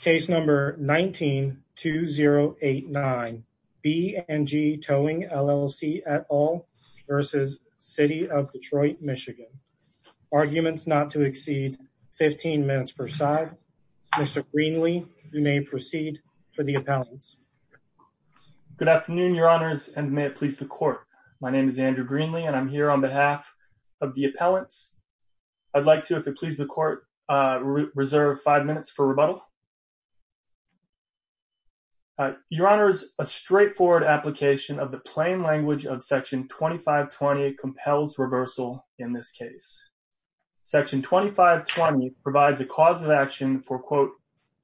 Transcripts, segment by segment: Case number 19-2089 B and G Towing LLC et al. versus City of Detroit, Michigan. Arguments not to exceed 15 minutes per side. Mr. Greenlee, you may proceed for the appellants. Good afternoon, your honors, and may it please the court. My name is Andrew Greenlee, and I'm here on behalf of the appellants. I'd like to, if it pleases the court, reserve five minutes for the appellants. Your honors, a straightforward application of the plain language of section 2520 compels reversal in this case. Section 2520 provides a cause of action for, quote,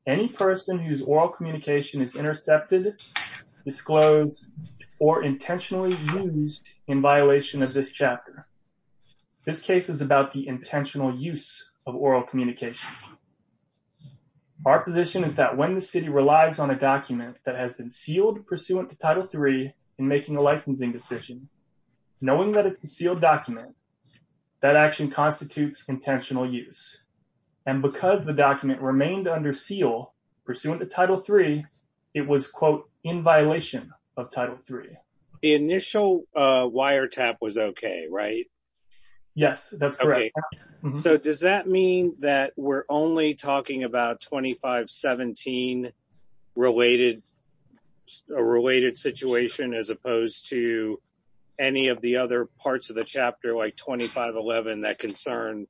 any person whose oral communication is intercepted, disclosed, or intentionally used in violation of this chapter. This case is about the intentional use of oral communication. Our position is that when the city relies on a document that has been sealed pursuant to Title 3 in making a licensing decision, knowing that it's a sealed document, that action constitutes intentional use. And because the document remained under seal pursuant to Title 3, it was, quote, in violation of Title 3. The initial wiretap was okay, right? Yes, that's correct. So does that mean that we're only talking about 2517-related situation as opposed to any of the other parts of the chapter, like 2511, that concern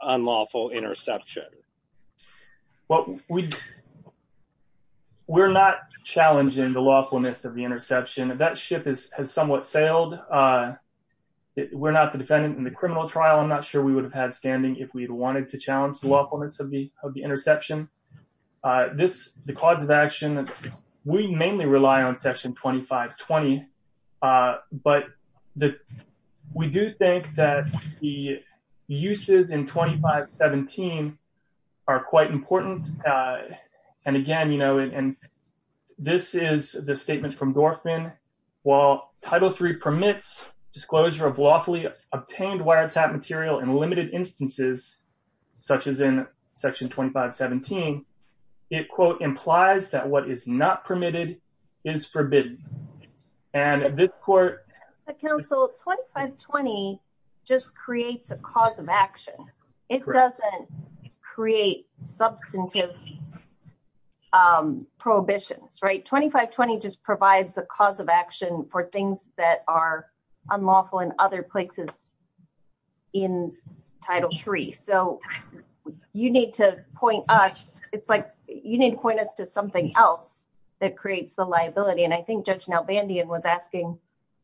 unlawful interception? Well, we're not challenging the lawfulness of the interception. That ship has somewhat sailed. We're not the defendant in the wanted to challenge the lawfulness of the interception. The cause of action, we mainly rely on Section 2520. But we do think that the uses in 2517 are quite important. And again, this is the statement from Dorfman. While Title 3 permits disclosure of lawfully obtained wiretap material in limited instances, such as in Section 2517, it, quote, implies that what is not permitted is forbidden. And this court... Council, 2520 just creates a cause of action. It doesn't create substantive prohibitions, right? 2520 just provides a cause of action for things that are in Title 3. So you need to point us... It's like you need to point us to something else that creates the liability. And I think Judge Nalbandian was asking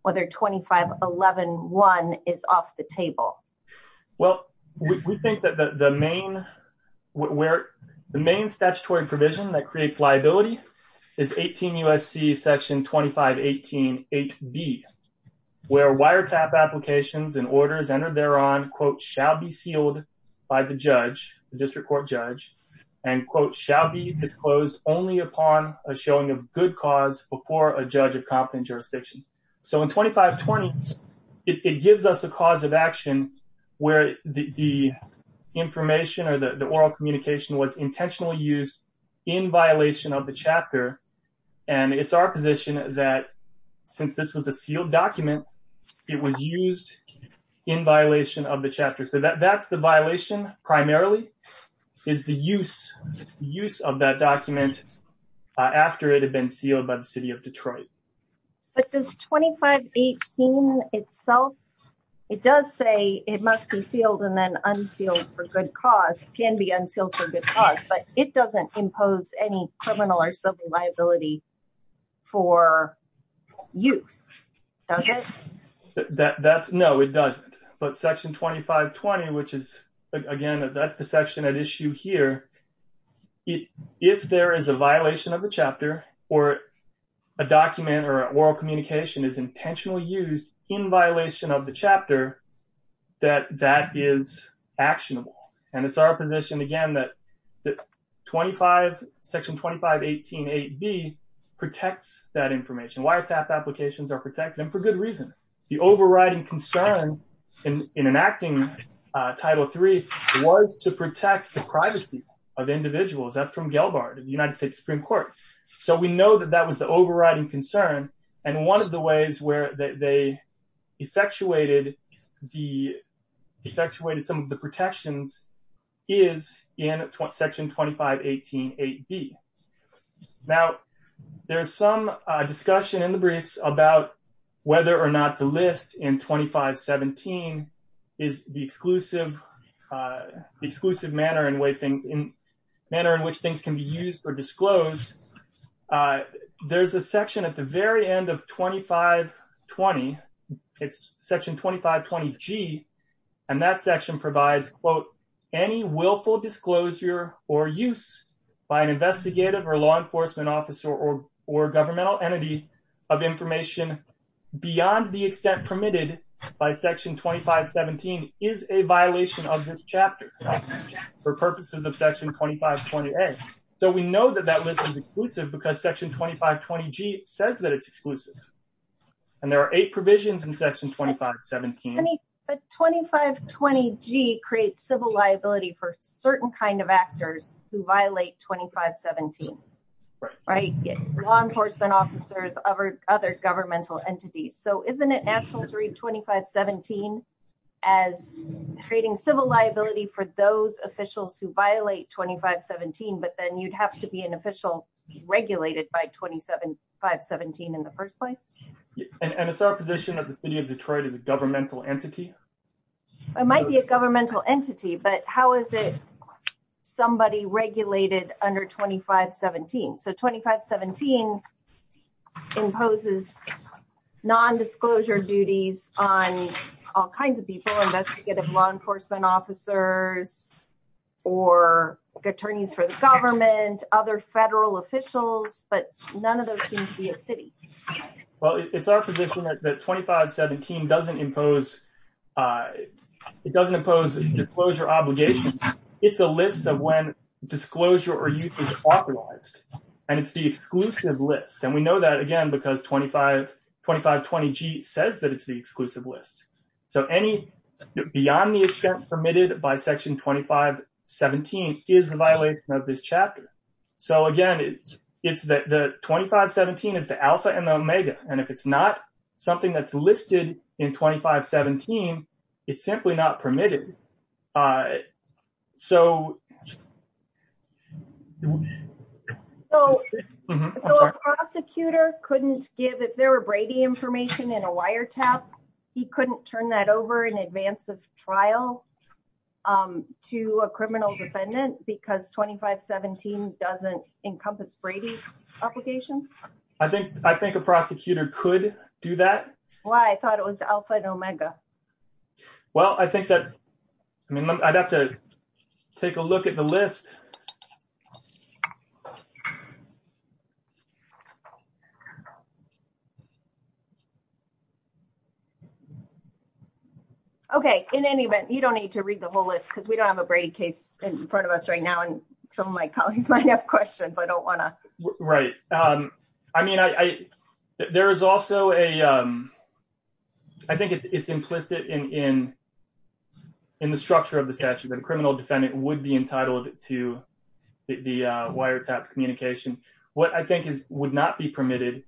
whether 2511-1 is off the table. Well, we think that the main statutory provision that creates liability is 18 U.S.C. Section 2518-8B, where wiretap applications and orders entered thereon, quote, shall be sealed by the judge, the district court judge, and, quote, shall be disclosed only upon a showing of good cause before a judge of competent jurisdiction. So in 2520, it gives us a cause of action where the information or the oral communication was intentionally used in violation of the chapter. And it's our position that since this was a sealed document, it was used in violation of the chapter. So that's the violation primarily, is the use of that document after it had been sealed by the City of Detroit. But does 2518 itself, it does say it must be sealed and then unsealed for good cause, can be unsealed for good cause, but it doesn't impose any criminal or civil liability for use, does it? No, it doesn't. But Section 2520, which is, again, that's the section at issue here, if there is a violation of the chapter or a document or oral communication is intentionally used in violation of the chapter, that that is actionable. And it's our position, again, that Section 2518.8b protects that information, wiretap applications are protected, and for good reason. The overriding concern in enacting Title III was to protect the privacy of individuals. That's from Gail Bard of the United States Supreme Court. So we know that that was the overriding concern. And one of the ways where they effectuated some of the protections is in Section 2518.8b. Now, there's some discussion in the briefs about whether or not the list in 2517 is the exclusive manner in which things can be used or disclosed. There's a section at the very end of 2520, it's Section 2520g, and that section provides, quote, any willful disclosure or use by an investigative or law enforcement officer or governmental entity of information beyond the extent permitted by Section 2517 is a violation of this chapter for purposes of Section 2520a. So we know that that list is exclusive because Section 2520g says that it's exclusive. And there are eight provisions in Section 2517. But 2520g creates civil liability for certain kind of actors who violate 2517, right? Law enforcement officers, other governmental entities. So isn't it natural to read 2517 as creating civil liability for those officials who violate 2517, but then you'd have to be an official regulated by 2517 in the first place? And it's our position that the city of Detroit is a governmental entity? It might be a governmental entity, but how is it regulated under 2517? So 2517 imposes non-disclosure duties on all kinds of people, investigative law enforcement officers, or attorneys for the government, other federal officials, but none of those seem to be a city. Well, it's our position that 2517 doesn't impose it doesn't impose disclosure obligations. It's a list of when disclosure or use is authorized. And it's the exclusive list. And we know that again, because 2520g says that it's the exclusive list. So any beyond the extent permitted by Section 2517 is a violation of this chapter. So again, it's that the 2517 is the alpha and omega. And if it's not something that's listed in 2517, it's simply not permitted. So so a prosecutor couldn't give if there were Brady information in a wiretap, he couldn't turn that over in advance of trial to a criminal defendant because 2517 doesn't encompass Brady obligations. I think I think a prosecutor could do that. Well, I thought it was alpha and omega. Well, I think that I mean, I'd have to take a look at the list. Okay, in any event, you don't need to read the whole list because we don't have a Brady case in front of us right now. And some of my colleagues might have questions. I don't want to write. I mean, I there is also a I think it's implicit in in in the structure of the statute, the criminal defendant would be entitled to the wiretap communication, what I think is would not be permitted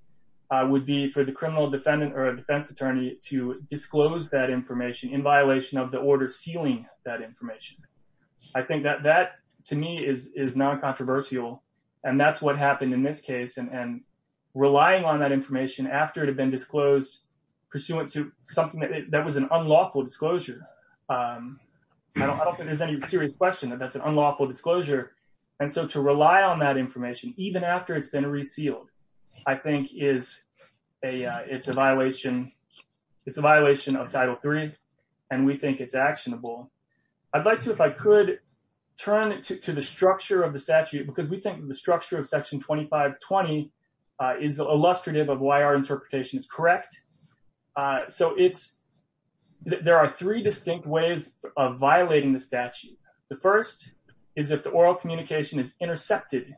would be for the criminal defendant or a defense attorney to disclose that information in violation of the order sealing that information. I think that that to me is non controversial. And that's what happened in this case. And relying on that information after it had been disclosed, pursuant to something that was an unlawful disclosure. I don't think there's any serious question that that's an unlawful disclosure. And so to rely on that information, even after it's been resealed, I think is a it's a violation. It's a violation of title three. And we think it's actionable. I'd like to if I could turn to the structure of the statute, because we think the structure of section 2520 is illustrative of why our interpretation is correct. So it's there are three distinct ways of violating the statute. The first is that the oral communication is intercepted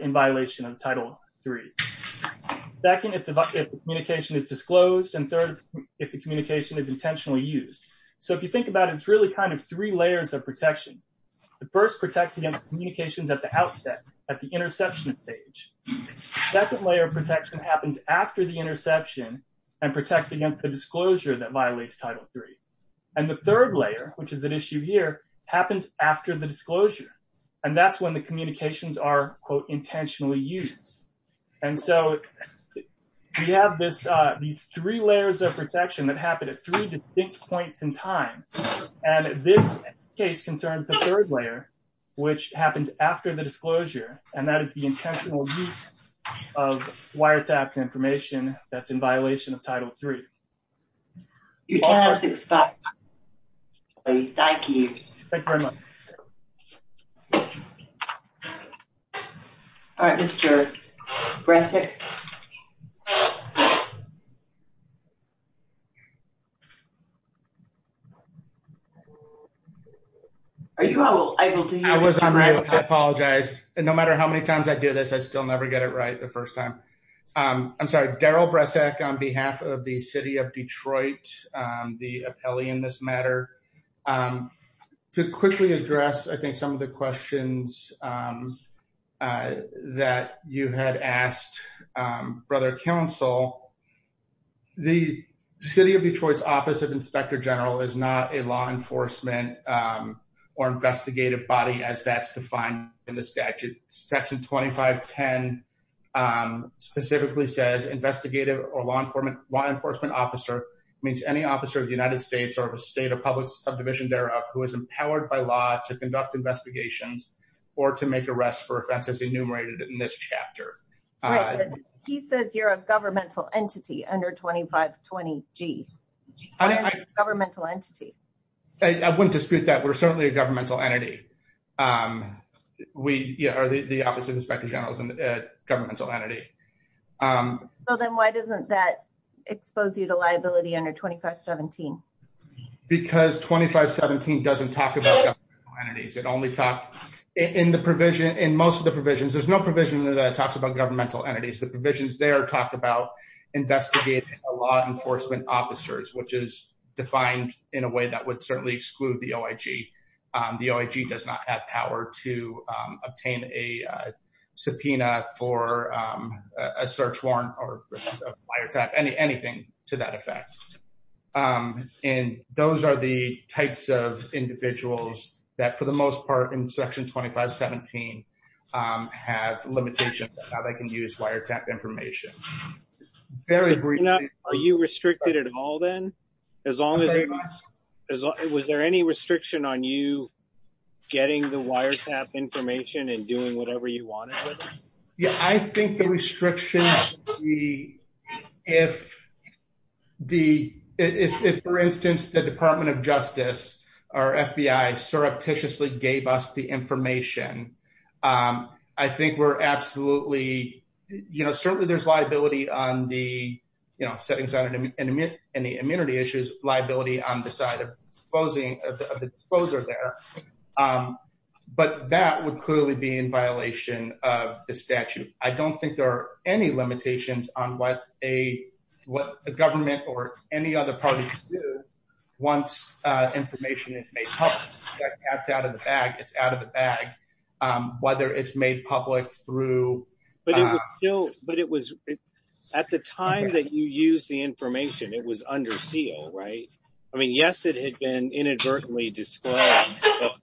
in violation of title three. Second, if the communication is disclosed, and third, if the communication is intentionally used. So if you think about it, it's really kind of three layers of protection. The first protects against communications at the outset at the interception stage. Second layer of protection happens after the interception and protects against the disclosure that violates title three. And the third layer, which is an issue here, happens after the disclosure. And that's when the communications are quote intentionally used. And so we have this, these three layers of protection that happen at three distinct points in time. And this case concerns the third layer, which happens after the disclosure, and that is the intentional use of wiretapped information that's in violation of title three. Your time has expired. Thank you. Thank you very much. All right, Mr. Bresek. Are you able to hear me? I apologize. No matter how many times I do this, I still never get it Detroit, the appellee in this matter. To quickly address, I think some of the questions that you had asked, Brother Counsel, the City of Detroit's Office of Inspector General is not a law enforcement or investigative body as that's defined in the statute. Section 2510 specifically says investigative or law enforcement officer means any officer of the United States or of a state or public subdivision thereof who is empowered by law to conduct investigations or to make arrests for offenses enumerated in this chapter. He says you're a governmental entity under 2520 G. Governmental entity. I wouldn't dispute that. We're certainly a governmental entity. We are the Office of Inspector General as a governmental entity. So then why doesn't that expose you to liability under 2517? Because 2517 doesn't talk about governmental entities. It only talked in the provision. In most of the provisions, there's no provision that talks about governmental entities. The provisions there talk about investigating law enforcement officers, which is defined in a way that would certainly exclude the OIG. The OIG does not have power to obtain a subpoena for a search warrant or wiretap, anything to that effect. And those are the types of individuals that for the most part in Section 2517 have limitations on how they can use wiretap information. Are you restricted at all then? Was there any restriction on you getting the wiretap information and doing whatever you wanted? Yeah, I think the restrictions if for instance the Department of Justice or FBI surreptitiously gave us the information, um, I think we're absolutely, you know, certainly there's liability on the, you know, settings out in the immunity issues, liability on the side of exposing, of the exposure there. But that would clearly be in violation of the statute. I don't think there are any limitations on what a, what the government or any other parties do once information is made public. That's out of the bag, it's out of the bag, um, whether it's made public through... But it was, at the time that you used the information, it was under seal, right? I mean, yes, it had been inadvertently disclosed.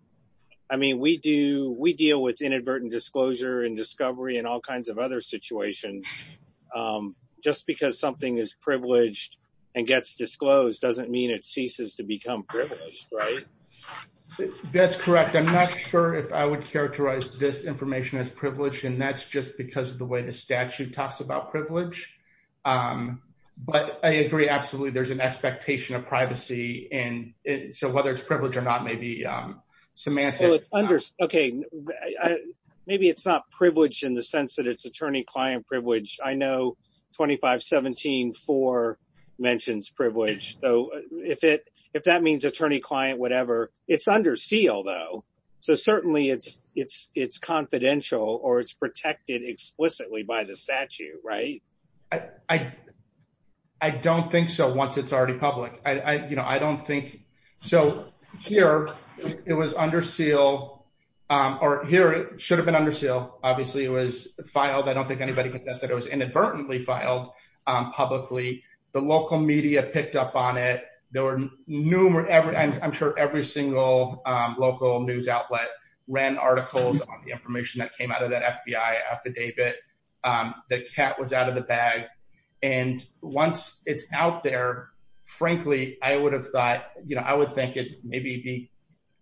I mean, we do, we deal with inadvertent disclosure and discovery and all kinds of other situations. Um, just because something is privileged and gets disclosed doesn't mean it ceases to become privileged, right? That's correct. I'm not sure if I would characterize this information as privileged, and that's just because of the way the statute talks about privilege. Um, but I agree absolutely there's an expectation of privacy, and so whether it's privileged or not may be, um, semantic. Okay, maybe it's not privileged in the sense that it's attorney-client privilege. I know 2517.4 mentions privilege, so if it, if that means attorney-client, whatever, it's under seal though, so certainly it's, it's, it's confidential or it's protected explicitly by the statute, right? I, I, I don't think so once it's already public. I, I, you know, I don't think, so here it was under seal, um, or here it should have been under seal. Obviously, it was filed. I don't think anybody could guess that it was inadvertently filed, um, publicly. The local media picked up on it. There were numerous, every, I'm sure every single, um, local news outlet ran articles on the information that came out of that FBI affidavit, um, that cat was out of the bag, and once it's out there, frankly, I would have thought, you know, I would think it maybe be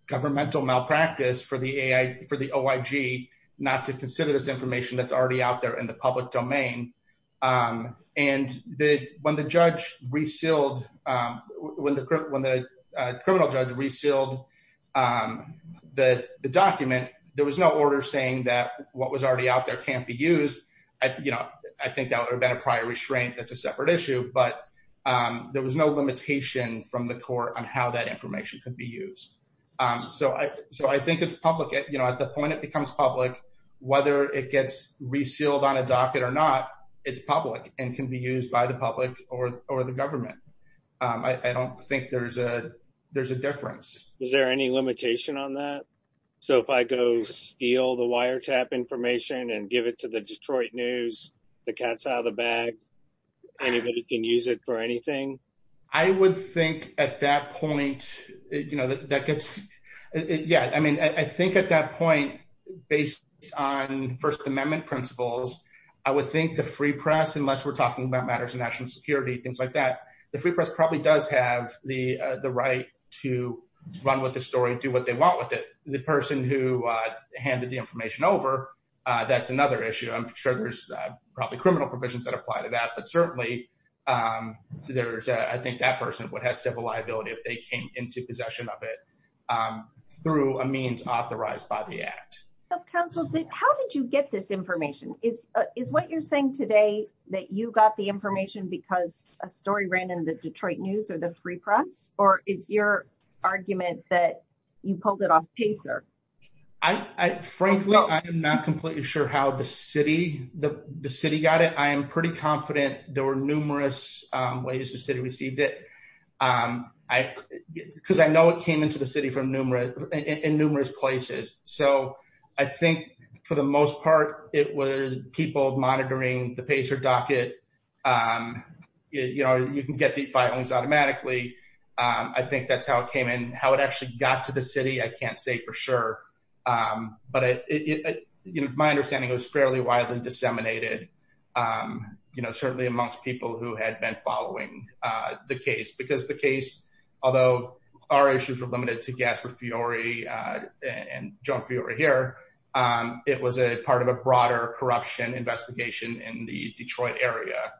governmental malpractice for the AI, for the OIG not to consider this information that's already out there in the public domain, um, and the, when the judge resealed, um, when the, when the criminal judge resealed, um, the, the document, there was no order saying that what was already out there can't be used. I, you know, I think that would have been a prior restraint. That's a separate issue, but, um, there was no limitation from the court on how that information could be used. Um, so I, so I think it's public, you know, at the point it becomes public, whether it gets resealed on a docket or not, it's public and can be used by the public or, or the government. Um, I, I don't think there's a, there's a difference. Is there any limitation on that? So if I go steal the wiretap information and give it to the Detroit News, the cat's out of the bag, anybody can use it for anything? I would think at that point, you know, that, that gets, yeah, I mean, I think at that point, based on first amendment principles, I would think the free press, unless we're talking about matters of national security, things like that, the free press probably does have the, uh, the right to run with the story and do what they want with it. The person who, uh, handed the information over, uh, that's another issue. I'm sure there's probably criminal provisions that apply to that, but certainly, um, there's, uh, I think that person would have civil liability if they came into possession of it, um, through a means authorized by the act. So counsel, how did you get this information? Is, uh, is what you're saying today that you got the information because a story ran in the Detroit News or the free press, or is your argument that you pulled it off pacer? I, I, frankly, I'm not completely sure how the city, the city got it. I am pretty confident there were numerous ways the city received it. Um, I, cause I know it came into the city from numerous, in numerous places. So I think for the most part, it was people monitoring the pacer docket. Um, you know, you can get the filings automatically. Um, I think that's how it came in, how it actually got to the city. I can't say for sure. Um, but it, you know, my understanding it was fairly widely disseminated, um, you know, certainly amongst people who had been following, uh, the case because the case, although our issues were limited to Gaspard Fiore, uh, and John Fiore here, um, it was a part of a broader corruption investigation in the Detroit area.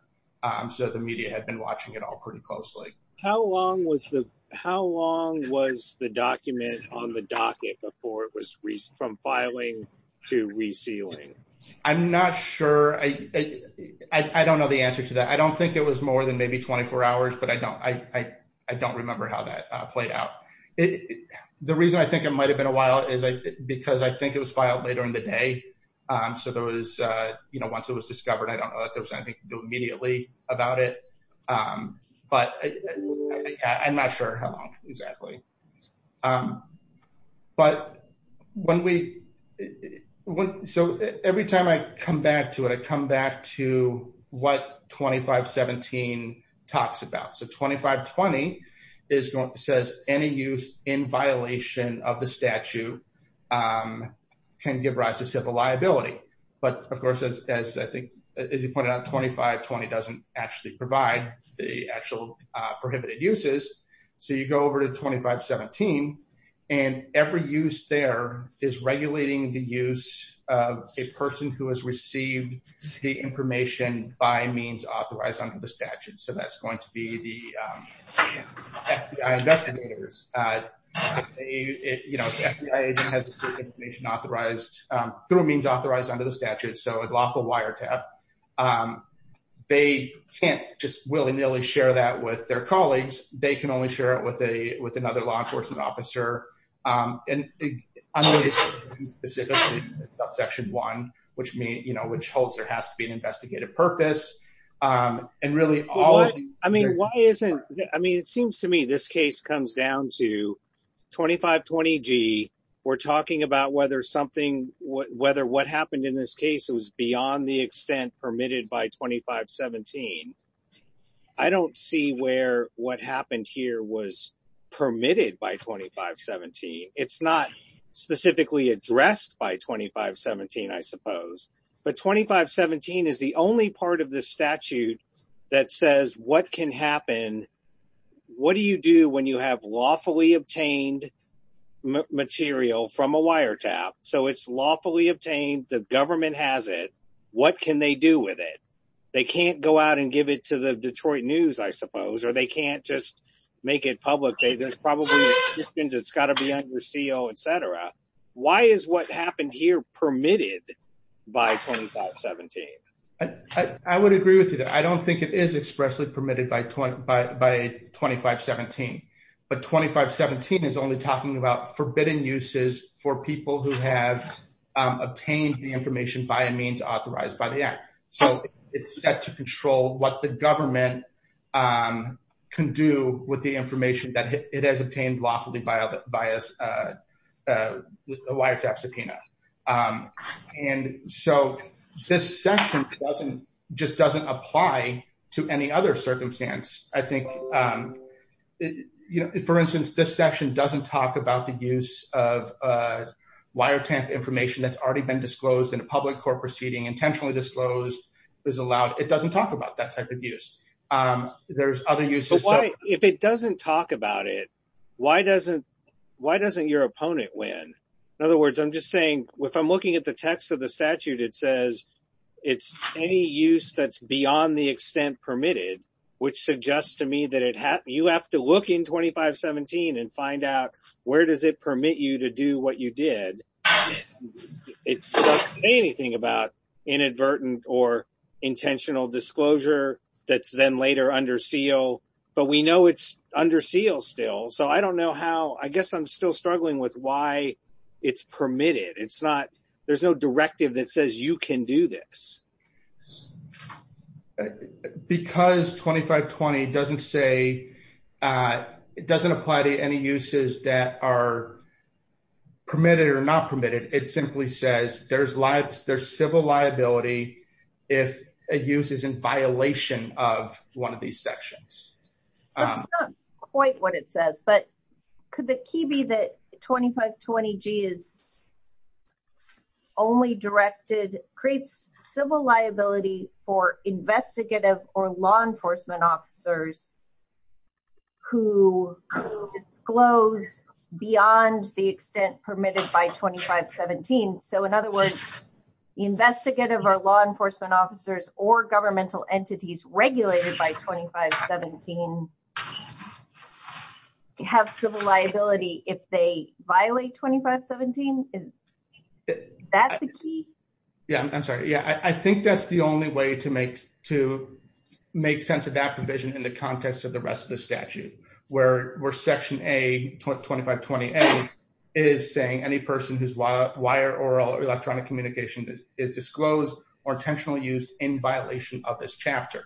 Um, the media had been watching it all pretty closely. How long was the, how long was the document on the docket before it was from filing to resealing? I'm not sure. I, I don't know the answer to that. I don't think it was more than maybe 24 hours, but I don't, I, I don't remember how that played out. It, the reason I think it might've been a while is because I think it was filed later in the day. Um, so there was, uh, you know, once it was discovered, I don't know that immediately about it. Um, but I'm not sure how long exactly. Um, but when we, so every time I come back to it, I come back to what 2517 talks about. So 2520 is going, says any use in violation of the statute, um, can give rise to civil liability. But of course, as I think, as you pointed out, 2520 doesn't actually provide the actual, uh, prohibited uses. So you go over to 2517 and every use there is regulating the use of a person who has received the information by means authorized under the statute. So that's going to be the, um, FBI investigators, uh, it, you know, FBI agent has information authorized, um, through means authorized under the statute. So a lawful wiretap, um, they can't just willy nilly share that with their colleagues. They can only share it with a, with another law enforcement officer. Um, and I'm going to specifically about section one, which means, you know, which holds there has to be an investigative purpose. Um, and really all of you, I mean, why isn't, I mean, it seems to me this case comes down to 2520 G we're talking about whether something, whether what happened in this case, it was beyond the extent permitted by 2517. I don't see where what happened here was permitted by 2517. It's not specifically addressed by 2517, I suppose, but 2517 is the only part of this statute that says, what can happen? What do you do when you have lawfully obtained material from a wiretap? So it's lawfully obtained. The government has it. What can they do with it? They can't go out and give it to the Detroit news, I suppose, or they can't just make it public. There's probably, it's got to be on your CEO, et cetera. Why is what happened here permitted by 2517? I would agree with you that I don't think it is expressly permitted by 20, but by 2517, but 2517 is only talking about forbidden uses for people who have obtained the information by a means authorized by the act. So it's set to control what the government can do with the information that it has obtained lawfully by a wiretap subpoena. And so this section just doesn't apply to any other circumstance. I think, for instance, this section doesn't talk about the use of wiretap information that's already been disclosed in a public court proceeding, intentionally disclosed, is allowed. It doesn't talk about that type of use. There's other uses. If it doesn't talk about it, why doesn't your opponent win? In other words, I'm just saying, if I'm looking at the text of the statute, it says it's any use that's beyond the extent permitted, which suggests to me that you have to look in 2517 and find out where does it permit you to do what you did. It doesn't say anything about inadvertent or intentional disclosure that's later under seal, but we know it's under seal still. So I don't know how, I guess I'm still struggling with why it's permitted. It's not, there's no directive that says you can do this. Because 2520 doesn't say, it doesn't apply to any uses that are permitted or not permitted. It simply says there's civil liability if a use is in violation of one of these sections. That's not quite what it says, but could the key be that 2520G is only directed, creates civil liability for investigative or law enforcement officers who disclose beyond the extent permitted by 2517? So in other words, investigative or law enforcement officers or governmental entities regulated by 2517 have civil liability if they violate 2517? Is that the key? Yeah, I'm sorry. Yeah, I think that's the only way to make sense of that provision in the context of the rest of the statute where section A, 2520A is saying any person whose wire, oral or electronic communication is disclosed or intentionally used in violation of this chapter.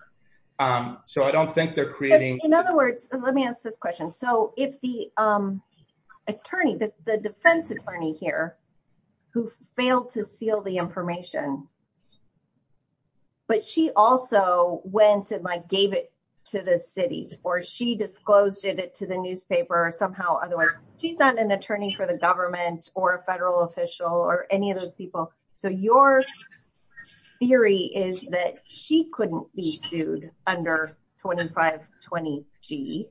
So I don't think they're creating- In other words, let me ask this question. So if the attorney, the defense attorney here who failed to seal the information, but she also went and like gave it to the city or she disclosed it to the newspaper or somehow otherwise, she's not an attorney for the government or a federal official or any of those people. So your theory is that she couldn't be sued under 2520G.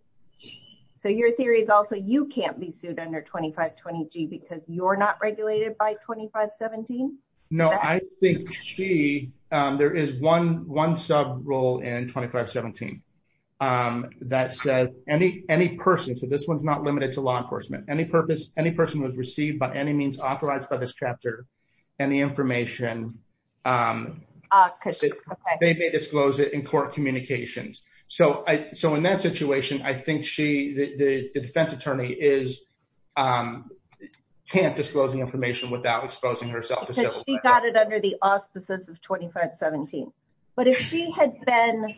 So your theory is also you can't be sued under 2520G because you're not regulated by 2517? No, I think she, there is one sub rule in 2517 that says any person, so this one's not limited to law enforcement, any person who has received by any means authorized by this chapter any I think she, the defense attorney is, can't disclose the information without exposing herself to civil- Because she got it under the auspices of 2517. But if she had been,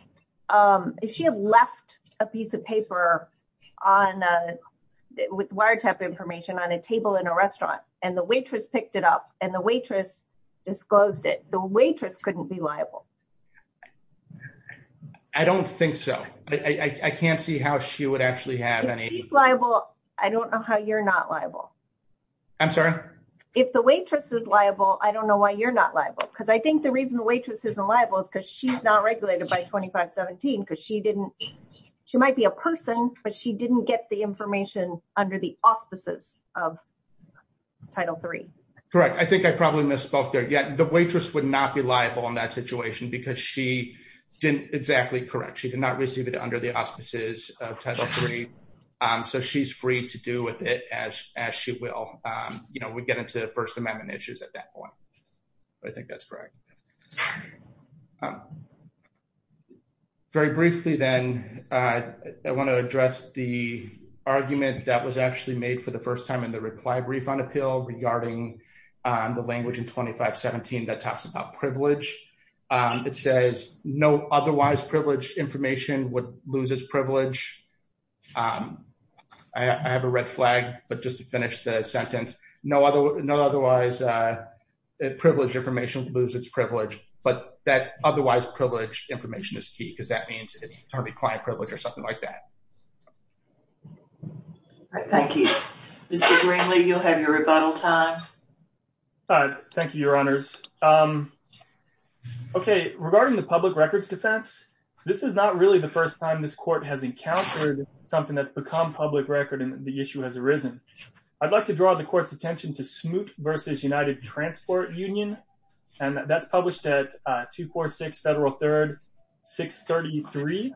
if she had left a piece of paper on, with wiretap information on a table in a restaurant and the waitress picked it up and the waitress disclosed it, the waitress couldn't be liable. I don't think so. I can't see how she would actually have any- If she's liable, I don't know how you're not liable. I'm sorry? If the waitress is liable, I don't know why you're not liable. Because I think the reason the waitress isn't liable is because she's not regulated by 2517 because she didn't, she might be a person, but she didn't get the information under the auspices of Title III. Correct. I think I probably misspoke there. Yeah, the waitress would not be liable in that situation because she didn't exactly correct. She did not receive it under the auspices of Title III. So she's free to do with it as she will. We get into First Amendment issues at that point. But I think that's correct. Very briefly then, I want to address the argument that was actually made for the first time in the reply brief on appeal regarding the language in 2517 that talks about privilege. It says, no otherwise privileged information would lose its privilege. I have a red flag, but just to finish the sentence, no otherwise privileged information loses its privilege, but that otherwise privileged information is key because that means it's probably client privilege or something like that. Thank you. Mr. Greenlee, you'll have your honors. Okay, regarding the public records defense, this is not really the first time this court has encountered something that's become public record and the issue has arisen. I'd like to draw the court's attention to Smoot v. United Transport Union, and that's published at 246 Federal 3rd 633.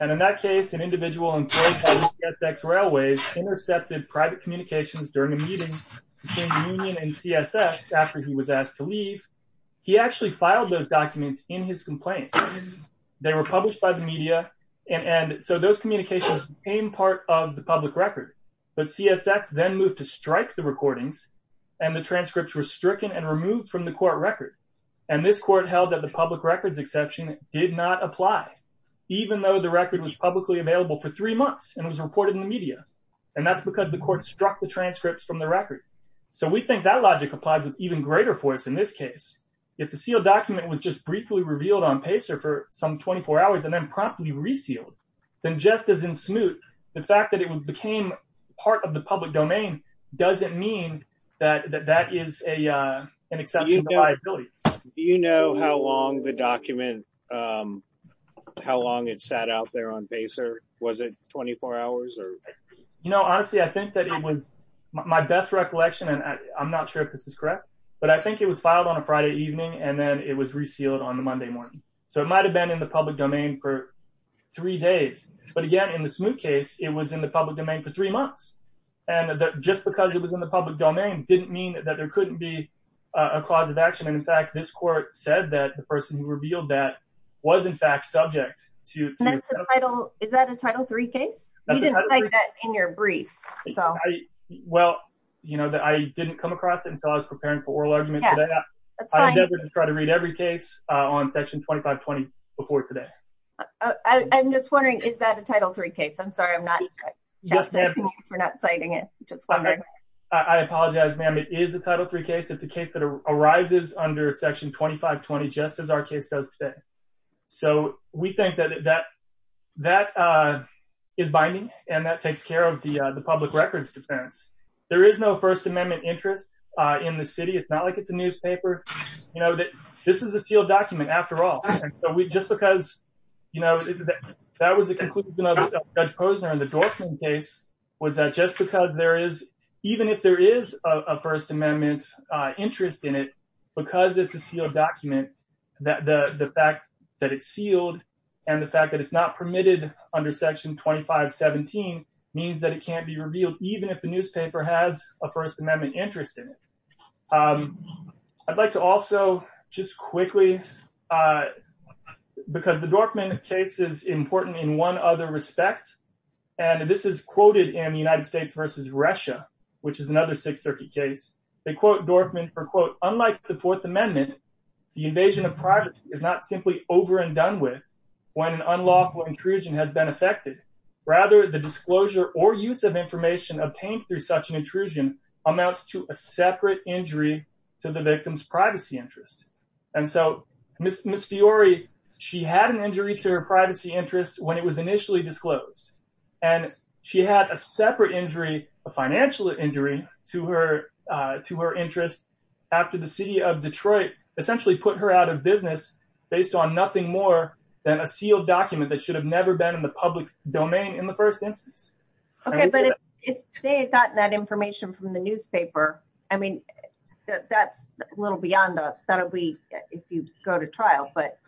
And in that case, an individual employed by CSX Railways intercepted communications during a meeting between the union and CSX after he was asked to leave. He actually filed those documents in his complaint. They were published by the media, and so those communications became part of the public record. But CSX then moved to strike the recordings, and the transcripts were stricken and removed from the court record. And this court held that the public records exception did not apply, even though the record was publicly available for three months and was reported in the media. And that's because the court struck the transcripts from the record. So we think that logic applies with even greater force in this case. If the sealed document was just briefly revealed on PACER for some 24 hours and then promptly resealed, then just as in Smoot, the fact that it became part of the public domain doesn't mean that that is an exception to liability. Do you know how long the document, how long it sat out there on PACER? Was it 24 hours? You know, honestly, I think that it was my best recollection, and I'm not sure if this is correct, but I think it was filed on a Friday evening and then it was resealed on the Monday morning. So it might have been in the public domain for three days. But again, in the Smoot case, it was in the public domain for three months. And just because it was in the public domain didn't mean that there couldn't be a clause of action. And in fact, this court said that the person who revealed that was in fact subject to... Is that a Title III case? You didn't cite that in your briefs. Well, you know, I didn't come across it until I was preparing for oral argument today. I'm never going to try to read every case on Section 2520 before today. I'm just wondering, is that a Title III case? I'm sorry, I'm not not citing it. I apologize, ma'am. It is a Title III case. It's a case that arises under Section 2520, just as our case does today. So we think that that is binding, and that takes care of the public records defense. There is no First Amendment interest in the city. It's not like it's a newspaper. You know, this is a sealed document after all. Just because, you know, that was the conclusion of Judge Posner in the Dorfman case, was that just because there is, even if there is a First Amendment interest in it, because it's a sealed document, the fact that it's sealed, and the fact that it's not permitted under Section 2517 means that it can't be revealed, even if the newspaper has a First Amendment interest in it. I'd like to also, just quickly, because the Dorfman case is important in one other respect, and this is quoted in the United States versus Russia, which is another Sixth Circuit case. They quote Dorfman for, quote, unlike the Fourth Amendment, the invasion of privacy is not simply over and done with when an unlawful intrusion has been effected. Rather, the disclosure or use of information obtained through such an intrusion amounts to a separate injury to the victim's privacy interest. And so, Ms. Fiori, she had an injury to her privacy interest when it was initially disclosed, and she had a separate injury, a financial injury, to her interest after the city of Detroit essentially put her out of business based on nothing more than a sealed document that should have never been in the public domain in the first instance. Okay, but if they had gotten that information from the newspaper, I mean, that's a little beyond us. That'll be if you go to trial, but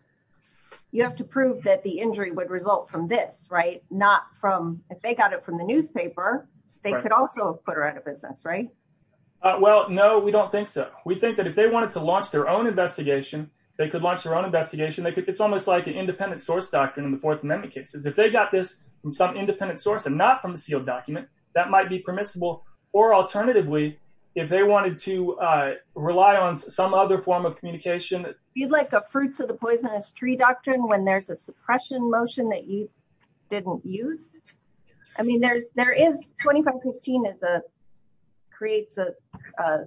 you have to prove that the injury would result from this, right? Not from, if they got it from the newspaper, they could also have put her out of business, right? Well, no, we don't think so. We think that if they wanted to launch their own investigation, they could launch their own case. If they got this from some independent source and not from the sealed document, that might be permissible, or alternatively, if they wanted to rely on some other form of communication. You'd like a fruits of the poisonous tree doctrine when there's a suppression motion that you didn't use? I mean, there is, 2515 creates a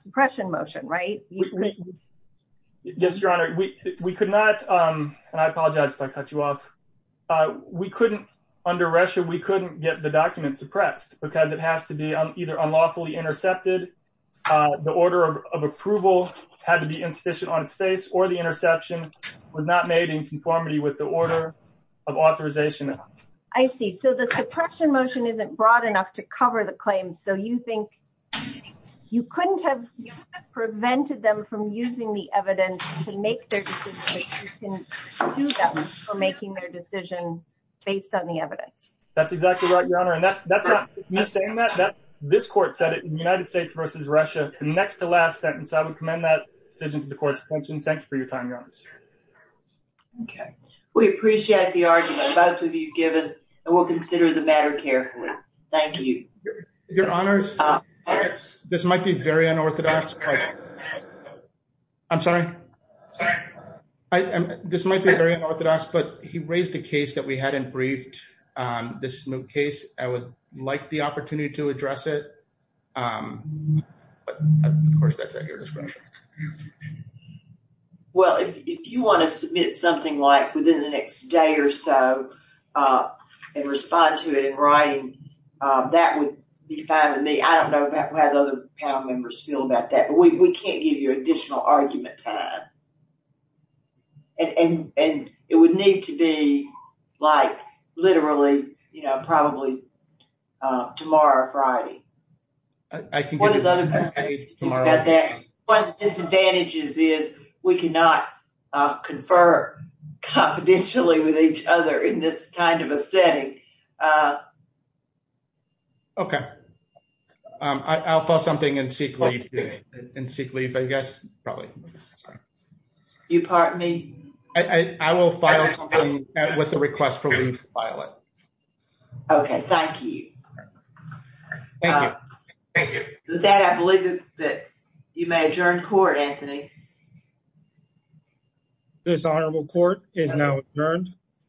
suppression motion, right? Yes, Your Honor, we could not, and I apologize if I cut you off. We couldn't, under Russia, we couldn't get the document suppressed because it has to be either unlawfully intercepted. The order of approval had to be insufficient on its face or the interception was not made in conformity with the order of authorization. I see. So the suppression motion isn't broad enough to cover the claim. So you think you couldn't have prevented them from using the evidence to make their decision based on the evidence? That's exactly right, Your Honor. This court said it in the United States versus Russia. Next to last sentence, I would commend that decision to the court's attention. Thanks for your time, Your Honor. Okay, we appreciate the argument both of you given and we'll consider the matter carefully. Thank you. Your Honors, this might be very unorthodox. I'm sorry. This might be very unorthodox, but he raised a case that we hadn't briefed. This case, I would like the opportunity to address it. Of course, that's at your discretion. Well, if you want to submit something like within the next day or so and respond to it in writing, that would be fine with me. I don't know how the other panel members feel about that, but we can't give you additional argument time. It would need to be like literally, you know, probably tomorrow or Friday. One of the disadvantages is we cannot confer confidentially with each other in this kind of a setting. Okay, I'll file something and seek leave, I guess, probably. You pardon me? I will file something with the request for leave to file it. Okay, thank you. Thank you. With that, I believe that you may adjourn court, Anthony. This honorable court is now adjourned.